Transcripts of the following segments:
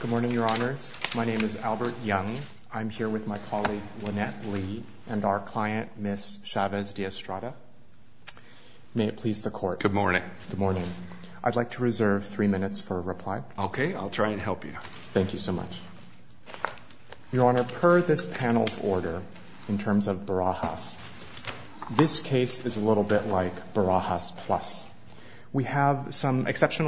Good morning, Your Honors. My name is Albert Young. I'm here with my colleague Lynette Lee and our client, Ms. Chavez-De-Estrada. May it please the Court. Good morning. Good morning. I'd like to reserve three minutes for a reply. Okay, I'll try and help you. Thank you so much. Your Honor, per this panel's order, in terms of Barajas, this case is a little bit like Barajas Plus. We have some infliction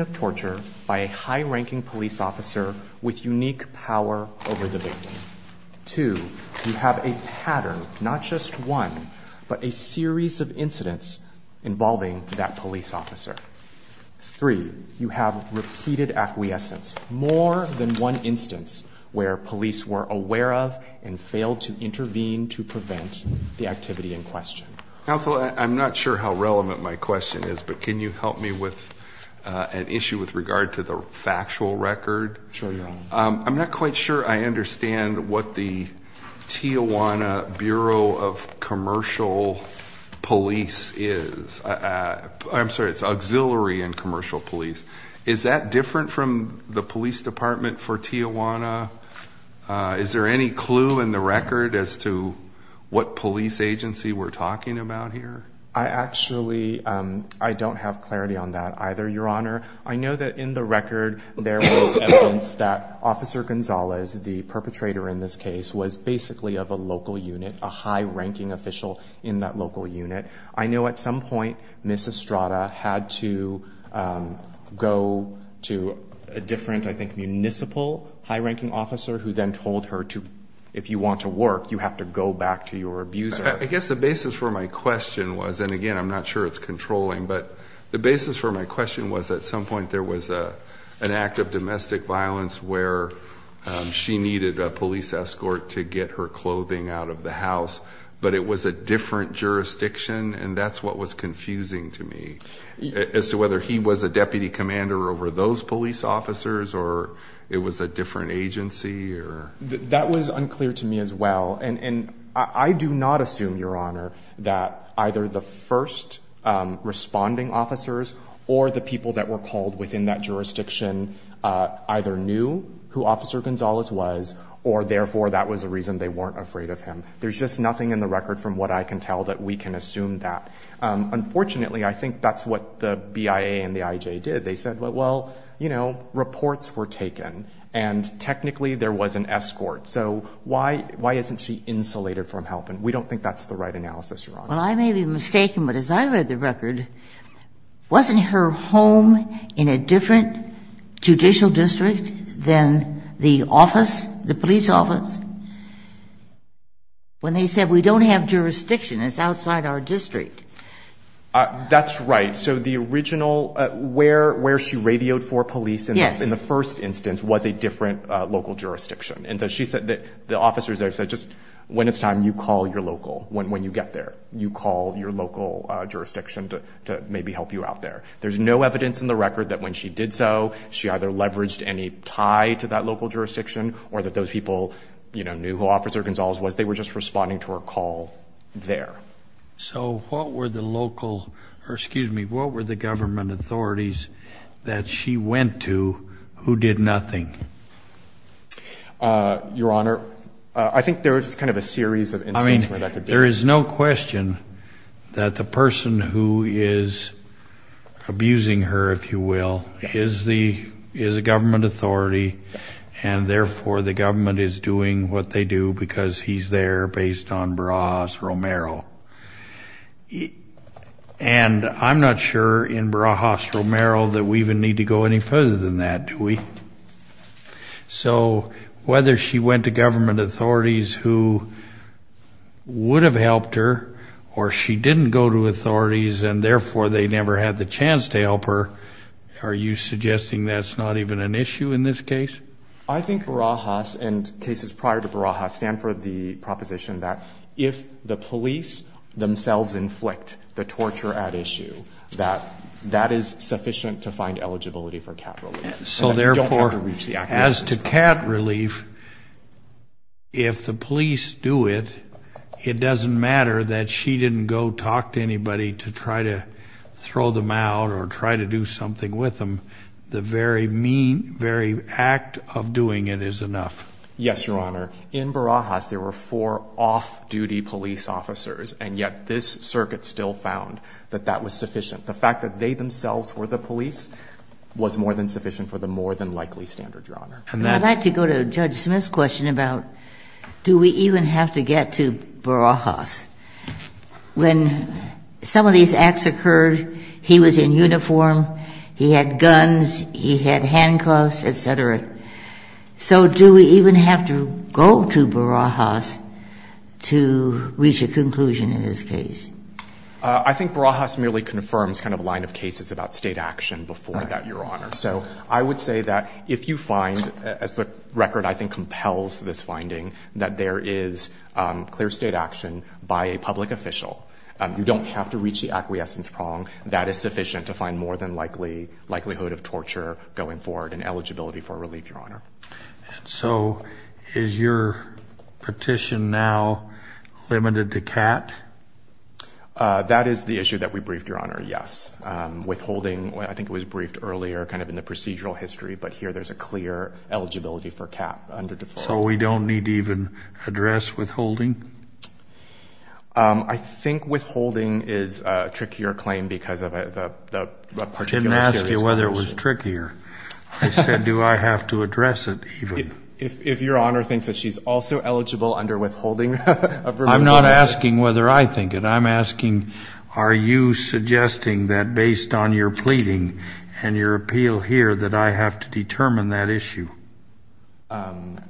of torture by a high-ranking police officer with unique power over the victim. Two, you have a pattern, not just one, but a series of incidents involving that police officer. Three, you have repeated acquiescence, more than one instance where police were aware of and failed to intervene to prevent the activity in question. Counsel, I'm not sure how relevant my question is, but can you help me with an issue with regard to the factual record? Sure, Your Honor. I'm not quite sure I understand what the Tijuana Bureau of Commercial Police is. I'm sorry, it's Auxiliary and Commercial Police. Is that different from the police department for Tijuana? Is there any clue in the record as to what police agency we're talking about here? I actually, I don't have clarity on that either, Your Honor. I know that in the record there was evidence that Officer Gonzalez, the perpetrator in this case, was basically of a local unit, a high-ranking official in that local unit. I know at some point, Ms. Estrada had to go to a different, I think, municipal high-ranking officer who then told her to, if you want to work, you have to go back to your abuser. I guess the basis for my question was, and again, I'm not sure it's controlling, but the basis for my question was at some point there was a an act of domestic violence where she needed a police escort to get her clothing out of the house, but it was a different jurisdiction and that's what was confusing to me as to whether he was a deputy commander over those police officers or it was a different agency or... That was unclear to me as well and I do not assume, Your Honor, that either the first responding officers or the people that were called within that jurisdiction either knew who Officer Gonzalez was or therefore that was a reason they weren't afraid of him. There's just nothing in the record from what I can tell that we can assume that. Unfortunately, I think that's what the BIA and the IJ did. They said, well, you know, reports were taken and technically there was an escort, so why isn't she insulated from helping? We don't think that's the right analysis, Your Honor. Well, I may be mistaken, but as I read the record, wasn't her home in a different judicial district than the office, the police office, when they said we don't have jurisdiction, it's outside our district? That's right. So the original, where she radioed for police in the first instance was a different local jurisdiction and so she said that the officers there said just when it's time you call your local when you get there, you call your local jurisdiction to maybe help you out there. There's no evidence in the record that when she did so, she either leveraged any tie to that local jurisdiction or that those people, you know, knew who Officer Gonzalez was. They were just responding to her call there. So what were the local, excuse me, what were the government authorities that she went to who did nothing? Your Honor, I think there was kind of a series of instances where that could be. I mean, there is no question that the person who is abusing her, if you will, is the, is a government authority and therefore the government is doing what they do because he's there based on Barajas-Romero. And I'm not sure in Barajas-Romero that we even need to go any further than that, do we? So whether she went to government authorities who would have helped her or she didn't go to authorities and therefore they never had the chance to help her, are you suggesting that's not even an issue in this case? I think Barajas and cases prior to Barajas stand for the proposition that if the police themselves inflict the torture at issue, that that is sufficient to find eligibility for cat relief. So therefore, as to cat relief, if the police do it, it doesn't matter that she didn't go talk to anybody to try to throw them out or try to do something with them. The very mean, very act of doing it is enough. Yes, Your Honor. In Barajas, there were four off-duty police officers, and yet this circuit still found that that was sufficient. The fact that they themselves were the police was more than sufficient for the more than likely standard, Your Honor. I'd like to go to Judge Smith's question about do we even have to get to Barajas? When some of these acts occurred, he was in uniform, he had guns, he had handcuffs, et cetera. So do we even have to go to Barajas to reach a conclusion in this case? I think Barajas merely confirms kind of a line of cases about state action before that, Your Honor. So I would say that if you find, as the record I think compels this finding, that there is clear state action by a public official, you don't have to reach the acquiescence prong, that is sufficient to find more than likelihood of torture going forward and eligibility for relief, Your Honor. And so is your petition now limited to CAT? That is the issue that we briefed, Your Honor, yes. Withholding, I think it was briefed earlier kind of in the procedural history, but here there's a clear eligibility for CAT under deferral. So we don't need to even address withholding? I think withholding is a trickier claim because of the particular case. I didn't ask you whether it was trickier. I said, do I have to address it even? If Your Honor thinks that she's also eligible under withholding of remuneration. I'm not asking whether I think it, I'm asking are you suggesting that based on your pleading and your appeal here that I have to determine that issue?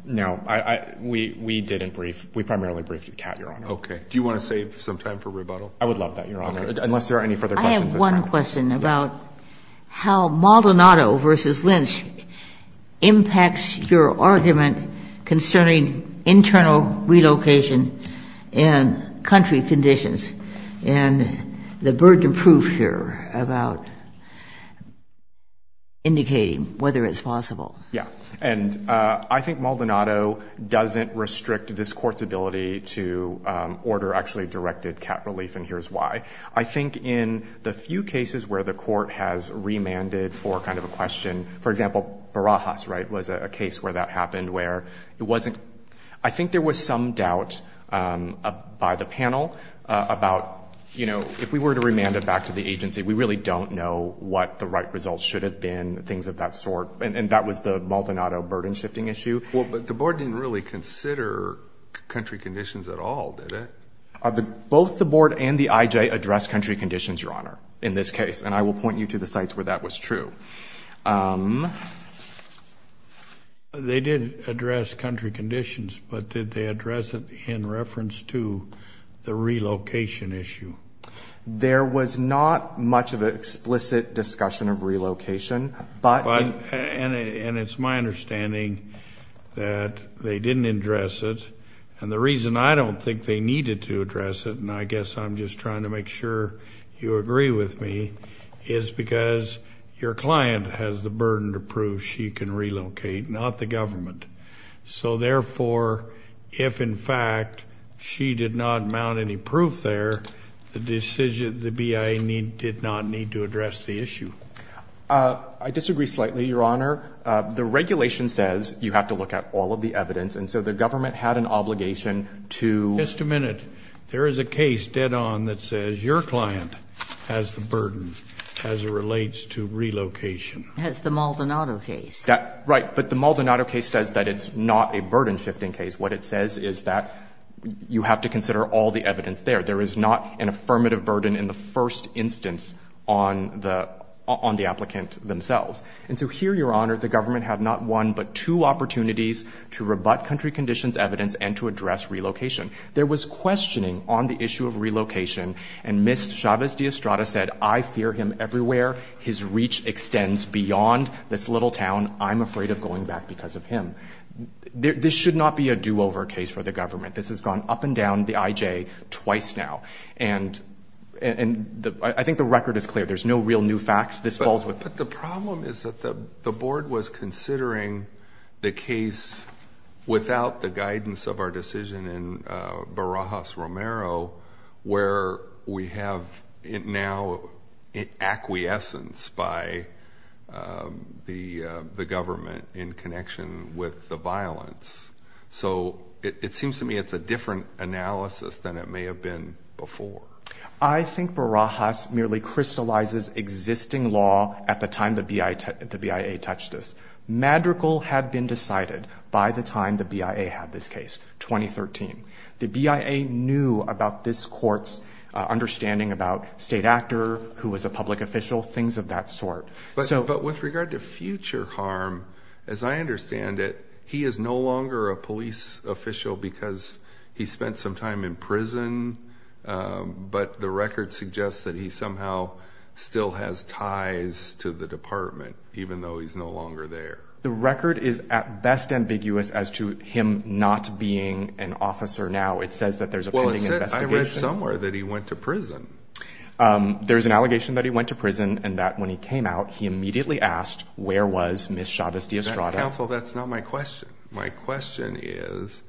No, we didn't brief. We primarily briefed CAT, Your Honor. Okay. Do you want to save some time for rebuttal? I would love that, Your Honor, unless there are any further questions. I have one question about how Maldonado v. Lynch impacts your argument concerning internal relocation and country conditions. And the burden of proof here about indicating whether it's possible. Yeah. And I think Maldonado doesn't restrict this Court's ability to order actually directed CAT relief, and I think in the few cases where the Court has remanded for kind of a question, for example, Barajas, right, was a case where that happened where it wasn't, I think there was some doubt by the panel about, you know, if we were to remand it back to the agency, we really don't know what the right results should have been, things of that sort. And that was the Maldonado burden shifting issue. Well, but the Board didn't really consider country conditions at all, did it? Both the Board and the I.J. addressed country conditions, Your Honor, in this case. And I will point you to the sites where that was true. They did address country conditions, but did they address it in reference to the relocation issue? There was not much of an explicit discussion of relocation, but... And it's my understanding that they didn't address it. And the reason I don't think they needed to address it, and I I'm just trying to make sure you agree with me, is because your client has the burden to prove she can relocate, not the government. So therefore, if in fact she did not mount any proof there, the decision, the BIA need, did not need to address the issue. I disagree slightly, Your Honor. The regulation says you have to look at all of the evidence, and so the government had an obligation to... Just a one that says your client has the burden as it relates to relocation. As the Maldonado case. That, right. But the Maldonado case says that it's not a burden-shifting case. What it says is that you have to consider all the evidence there. There is not an affirmative burden in the first instance on the applicant themselves. And so here, Your Honor, the government had not one but two opportunities to rebut country conditions evidence and to address relocation. There was questioning on the issue of relocation, and Ms. Chavez-Diostrada said, I fear him everywhere. His reach extends beyond this little town. I'm afraid of going back because of him. This should not be a do-over case for the government. This has gone up and down the IJ twice now, and I think the record is clear. There's no real new facts. This falls with... But the problem is that the board was considering the case without the where we have it now in acquiescence by the government in connection with the violence. So it seems to me it's a different analysis than it may have been before. I think Barajas merely crystallizes existing law at the time the BIA touched this. Madrigal had been decided by the time the BIA had this case, 2013. The BIA knew about this court's understanding about state actor who was a public official, things of that sort. But with regard to future harm, as I understand it, he is no longer a police official because he spent some time in prison, but the record suggests that he somehow still has ties to the department even though he's no longer there. The record is at best ambiguous as to him not being an officer now. It says that there's a pending investigation. Well, I read somewhere that he went to prison. There's an allegation that he went to prison and that when he came out, he immediately asked, where was Ms. Chavez D'Estrada? Counsel, that's not my question. My question is,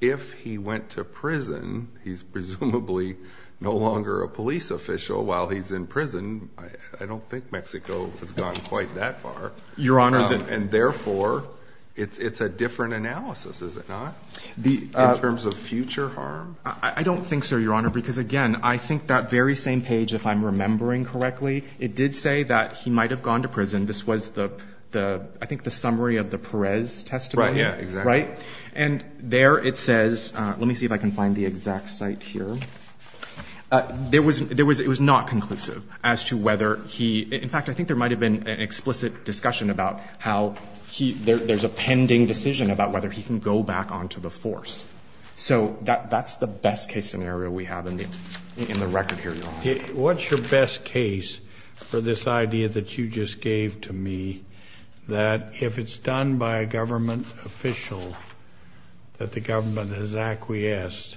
if he went to prison, he's presumably no longer a police official while he's in prison. I don't think Mexico has gone quite that far. Your Honor... And therefore, it's a different analysis, is it not? In terms of future harm? I don't think so, Your Honor, because, again, I think that very same page, if I'm remembering correctly, it did say that he might have gone to prison. This was the – I think the summary of the Perez testimony. Right, yeah, exactly. Right? And there it says – let me see if I can find the exact site here. There was – it was not conclusive as to whether he – in fact, I think there might have been an explicit discussion about how he – there's a pending decision about whether he can go back onto the force. So that's the best case scenario we have in the record here, Your Honor. What's your best case for this idea that you just gave to me, that if it's done by a government official that the government has acquiesced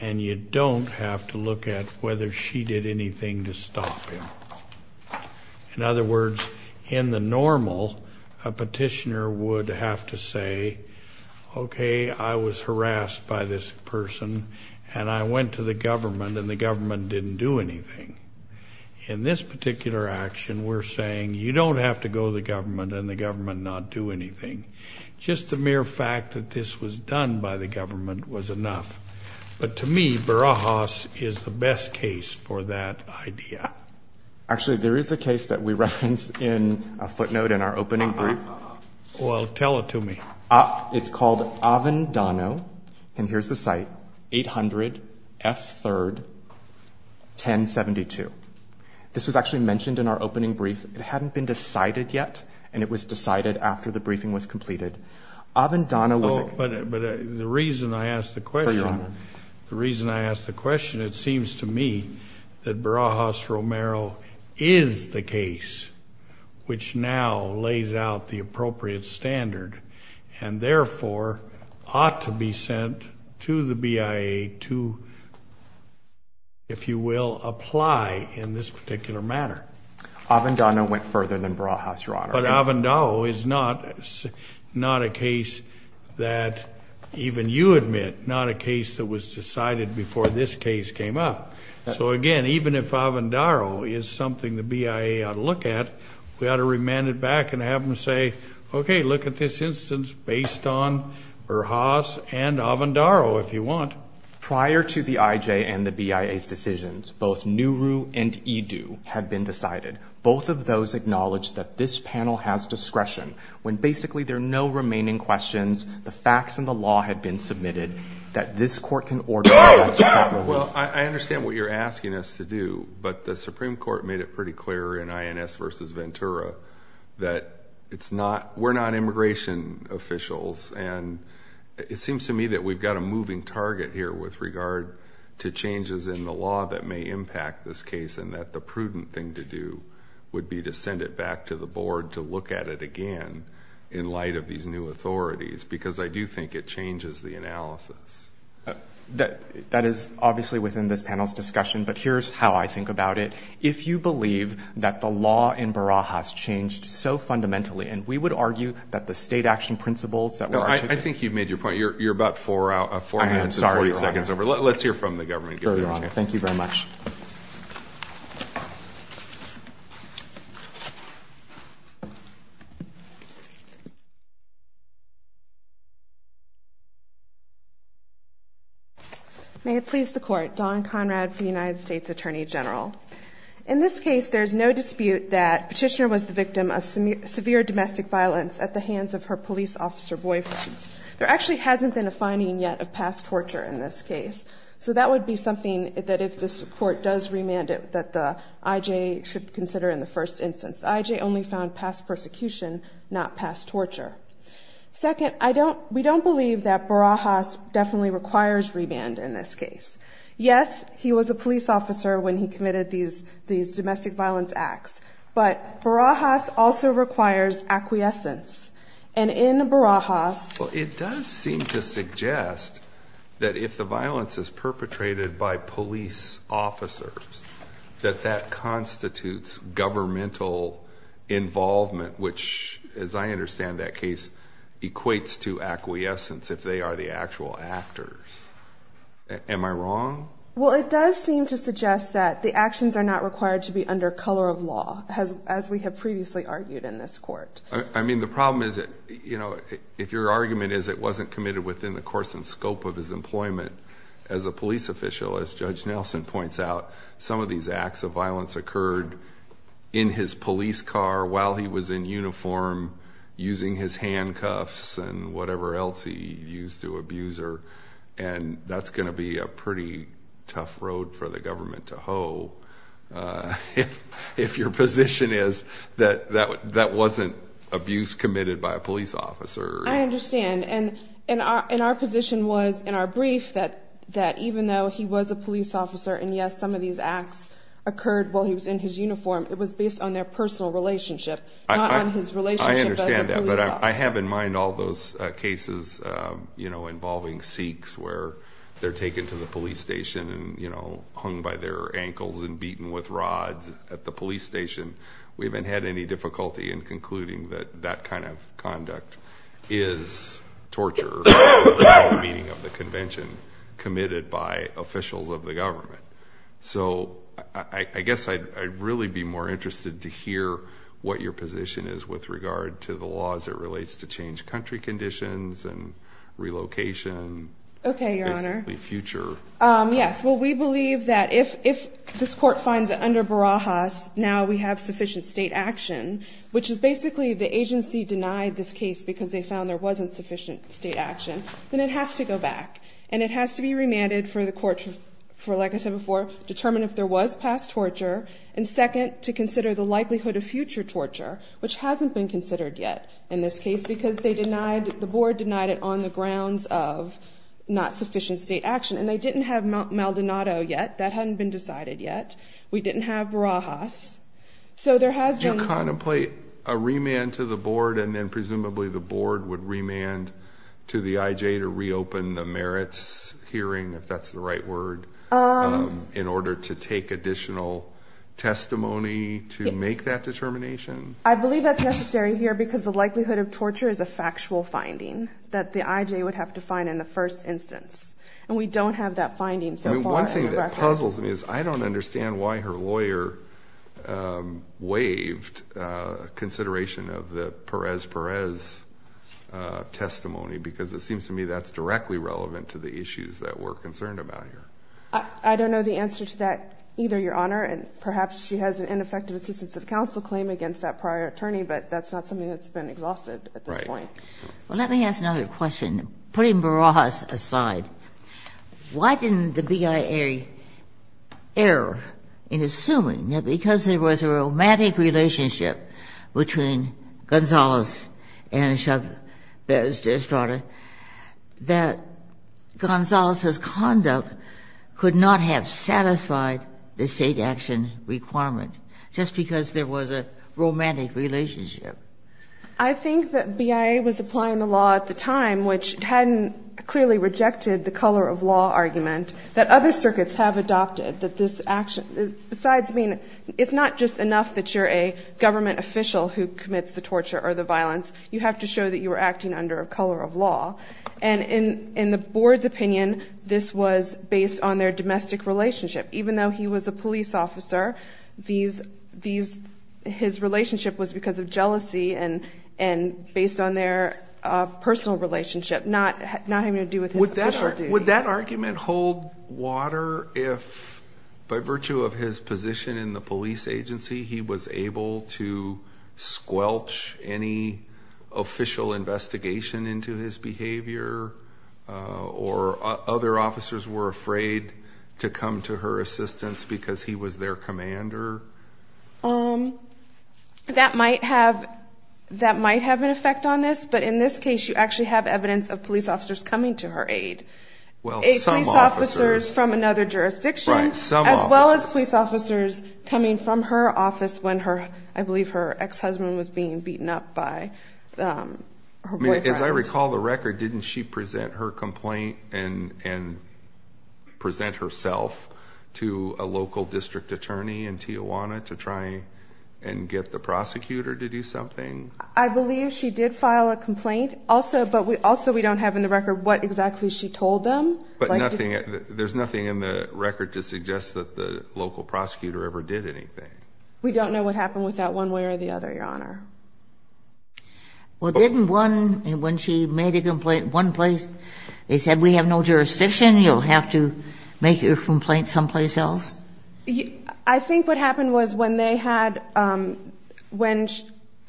and you don't have to look at whether she did anything to stop him? In other words, in the person, and I went to the government and the government didn't do anything. In this particular action, we're saying you don't have to go to the government and the government not do anything. Just the mere fact that this was done by the government was enough. But to me, Barajas is the best case for that idea. Actually there is a case that we referenced in a footnote in our opening brief. Well, tell it to me. It's called Avendano, and here's the site, 800 F. 3rd, 1072. This was actually mentioned in our opening brief. It hadn't been decided yet, and it was decided after the briefing was completed. Avendano was – Oh, but the reason I ask the question, the reason I ask the question, it seems to me that Barajas Romero is the case which now lays out the appropriate standard, and therefore ought to be sent to the BIA to, if you will, apply in this particular matter. Avendano went further than Barajas, Your Honor. But Avendao is not a case that even you admit, not a case that was decided before this case came up. So again, even if Avendao is something the BIA ought to look at this instance based on Barajas and Avendao, if you want. Prior to the IJ and the BIA's decisions, both Nuru and Edu have been decided. Both of those acknowledge that this panel has discretion. When basically there are no remaining questions, the facts and the law have been submitted, that this Court can order – Well, I understand what you're asking us to do, but the Supreme Court made it non-immigration officials, and it seems to me that we've got a moving target here with regard to changes in the law that may impact this case, and that the prudent thing to do would be to send it back to the Board to look at it again in light of these new authorities, because I do think it changes the analysis. That is obviously within this panel's discussion, but here's how I think about it. If you believe that the law in Barajas changed so fundamentally, and we would argue that the state action principles that were articulated – No, I think you've made your point. You're about 4 minutes and 40 seconds over. Let's hear from the government. Further on. Thank you very much. May it please the Court. Dawn Conrad for the United States Attorney General. In this case, there's no dispute that Petitioner was the victim of severe domestic violence at the hands of her police officer boyfriend. There actually hasn't been a finding yet of past torture in this case, so that would be something that if this Court does remand it, that the IJ should consider in the first instance. The IJ only found past persecution, not past torture. Second, we don't believe that Barajas definitely requires remand in this case. Yes, he was a police officer when he committed these domestic violence acts, but Barajas also requires acquiescence, and in Barajas – Well, it does seem to suggest that if the violence is perpetrated by police officers, that that constitutes governmental involvement, which, as I understand that case, equates to acquiescence if they are the actual actors. Am I wrong? Well, it does seem to suggest that the actions are not required to be under color of law, as we have previously argued in this Court. I mean, the problem is that, you know, if your argument is it wasn't committed within the course and scope of his employment as a police official, as Judge Nelson points out, some of these acts of violence occurred in his police car while he was in uniform, using his handcuffs and whatever else he used to abuse her, and that's going to be a pretty tough road for the government to if your position is that that wasn't abuse committed by a police officer. I understand, and our position was in our brief that even though he was a police officer and, yes, some of these acts occurred while he was in his uniform, it was based on their personal relationship, not on his relationship as a police officer. I understand that, but I have in mind all those cases, you know, involving Sikhs where they're taken to the police station and, you know, hung by their hands at the police station. We haven't had any difficulty in concluding that that kind of conduct is torture in the meaning of the convention committed by officials of the government. So I guess I'd really be more interested to hear what your position is with regard to the laws that relates to changed country conditions and relocation. Okay, Your Honor. Basically, future. Yes, well, we believe that if this court finds that under Barajas now we have sufficient state action, which is basically the agency denied this case because they found there wasn't sufficient state action, then it has to go back, and it has to be remanded for the court to, like I said before, determine if there was past torture, and second, to consider the likelihood of future torture, which hasn't been considered yet in this case because they denied, the board denied it on the grounds of not sufficient state action, and they didn't have Maldonado yet. That hadn't been decided yet. We didn't have Barajas, so there has been... Do you contemplate a remand to the board, and then presumably the board would remand to the IJ to reopen the merits hearing, if that's the right word, in order to take additional testimony to make that determination? I believe that's necessary here because the likelihood of torture is a factual finding that the IJ would have to find in the first instance, and we don't have that finding so far. One thing that puzzles me is I don't understand why her lawyer waived consideration of the Perez-Perez testimony because it seems to me that's directly relevant to the issues that we're concerned about here. I don't know the answer to that either, Your Honor, and perhaps she has an ineffective assistance of counsel claim against that prior attorney, but that's not something that's been exhausted at this point. Well, let me ask another question. Putting Barajas aside, why didn't the BIA err in assuming that because there was a romantic relationship between Gonzales and Chavez-Estrada, that Gonzales' conduct could not have satisfied the state action requirement just because there was a romantic relationship? I think that BIA was applying the law at the time, which hadn't clearly rejected the color of law argument that other circuits have adopted. It's not just enough that you're a government official who commits the torture or the violence. You have to show that you were acting under a color of law, and in the Board's opinion, this was based on their domestic relationship. Even though he was a police officer, his relationship was because of and based on their personal relationship, not having to do with his official duties. Would that argument hold water if, by virtue of his position in the police agency, he was able to squelch any official investigation into his behavior or other officers were afraid to come to her assistance because he was their commander? Um, that might have an effect on this, but in this case, you actually have evidence of police officers coming to her aid, police officers from another jurisdiction, as well as police officers coming from her office when her, I believe, her ex-husband was being beaten up by her boyfriend. As I recall the record, didn't she present her complaint and present herself to a local district attorney in Tijuana to try and get the prosecutor to do something? I believe she did file a complaint, also, but also we don't have in the record what exactly she told them. But nothing, there's nothing in the record to suggest that the local prosecutor ever did anything. We don't know what happened with that one way or the other, Your Honor. Well, didn't one, when she made a complaint, one place, they said, we have no jurisdiction, you'll have to make your complaint someplace else? I think what happened was when they had, um, when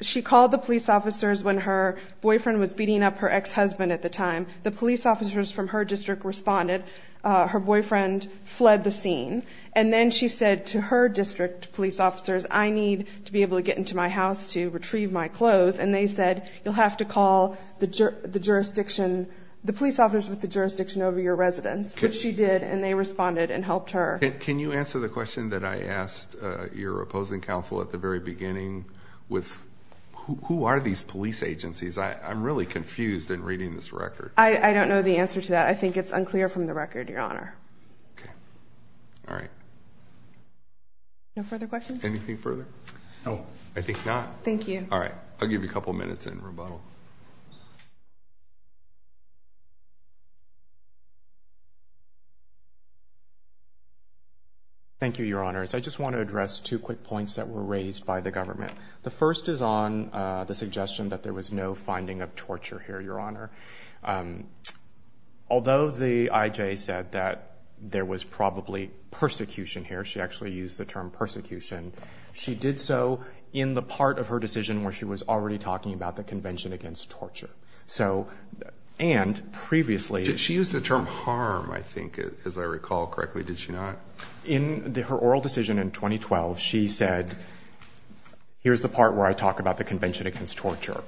she called the police officers when her boyfriend was beating up her ex-husband at the time, the police officers from her district responded, her boyfriend fled the scene. And then she said to her district police officers, I need to be able to get into my house to retrieve my clothes. And they said, you'll have to call the jurisdiction, the police officers with the jurisdiction over your residence, which she did. And they responded and helped her. Can you answer the question that I asked your opposing counsel at the very beginning with who are these police agencies? I'm really confused in reading this record. I don't know the answer to that. I think it's unclear from the record, Your Honor. Okay. All right. No further questions? Anything further? No. I think not. Thank you. All right. I'll give you a couple minutes in rebuttal. Thank you, Your Honors. I just want to address two quick points that were raised by the government. The first is on the suggestion that there was no finding of torture here, Your Honor. Although the IJ said that there was probably persecution here, she actually used the term persecution, she did so in the part of her decision where she was already talking about the Convention Against Torture. She used the term harm, I think, as I recall correctly. Did she not? In her oral decision in 2012, she said, here's the part where I talk about the Convention Against Torture.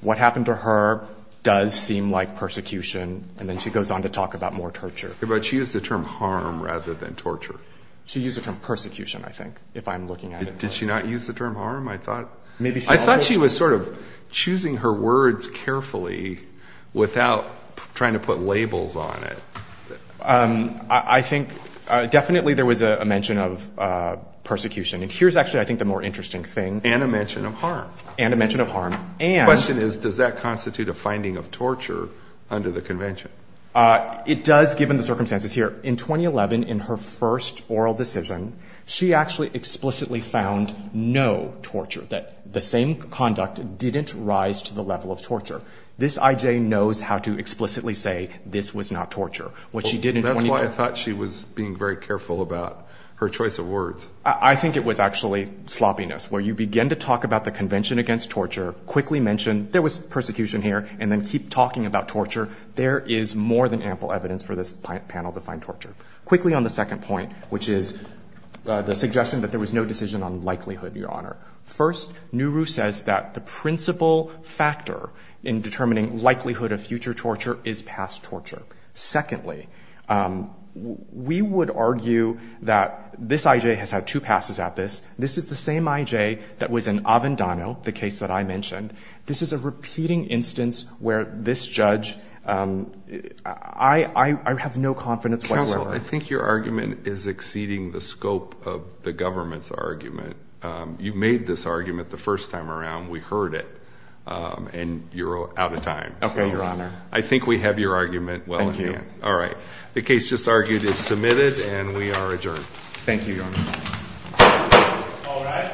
What happened to her does seem like persecution. And then she goes on to talk about more torture. But she used the term harm rather than torture. She used the term persecution, I think, if I'm looking at it. Did she not use the term harm? I thought she was sort of choosing her words carefully without trying to put labels on it. I think definitely there was a mention of persecution. And here's actually, I think, the more interesting thing. And a mention of harm. And a mention of harm. And the question is, does that constitute a finding of torture under the convention? It does, given the circumstances here. In 2011, in her first oral decision, she actually explicitly found no torture, that the same conduct didn't rise to the level of torture. This I.J. knows how to explicitly say, this was not torture. What she did in 2012- That's why I thought she was being very careful about her choice of words. I think it was actually sloppiness, where you begin to talk about the Convention Against Torture, quickly mention, there was persecution here, and then keep talking about torture. There is more than ample evidence for this panel to find torture. Quickly on the second point, which is the suggestion that there was no decision on likelihood, Your Honor. First, Nuru says that the principal factor in determining likelihood of future torture is past torture. Secondly, we would argue that this I.J. has had two passes at this. This is the same I.J. that was in Avendano, the case that I mentioned. This is a repeating instance where this judge, I have no confidence whatsoever- Counsel, I think your argument is exceeding the scope of the government's argument. You made this argument the first time around. We heard it. And you're out of time. Okay, Your Honor. I think we have your argument well in hand. All right. The case just argued is submitted, and we are adjourned. Thank you, Your Honor.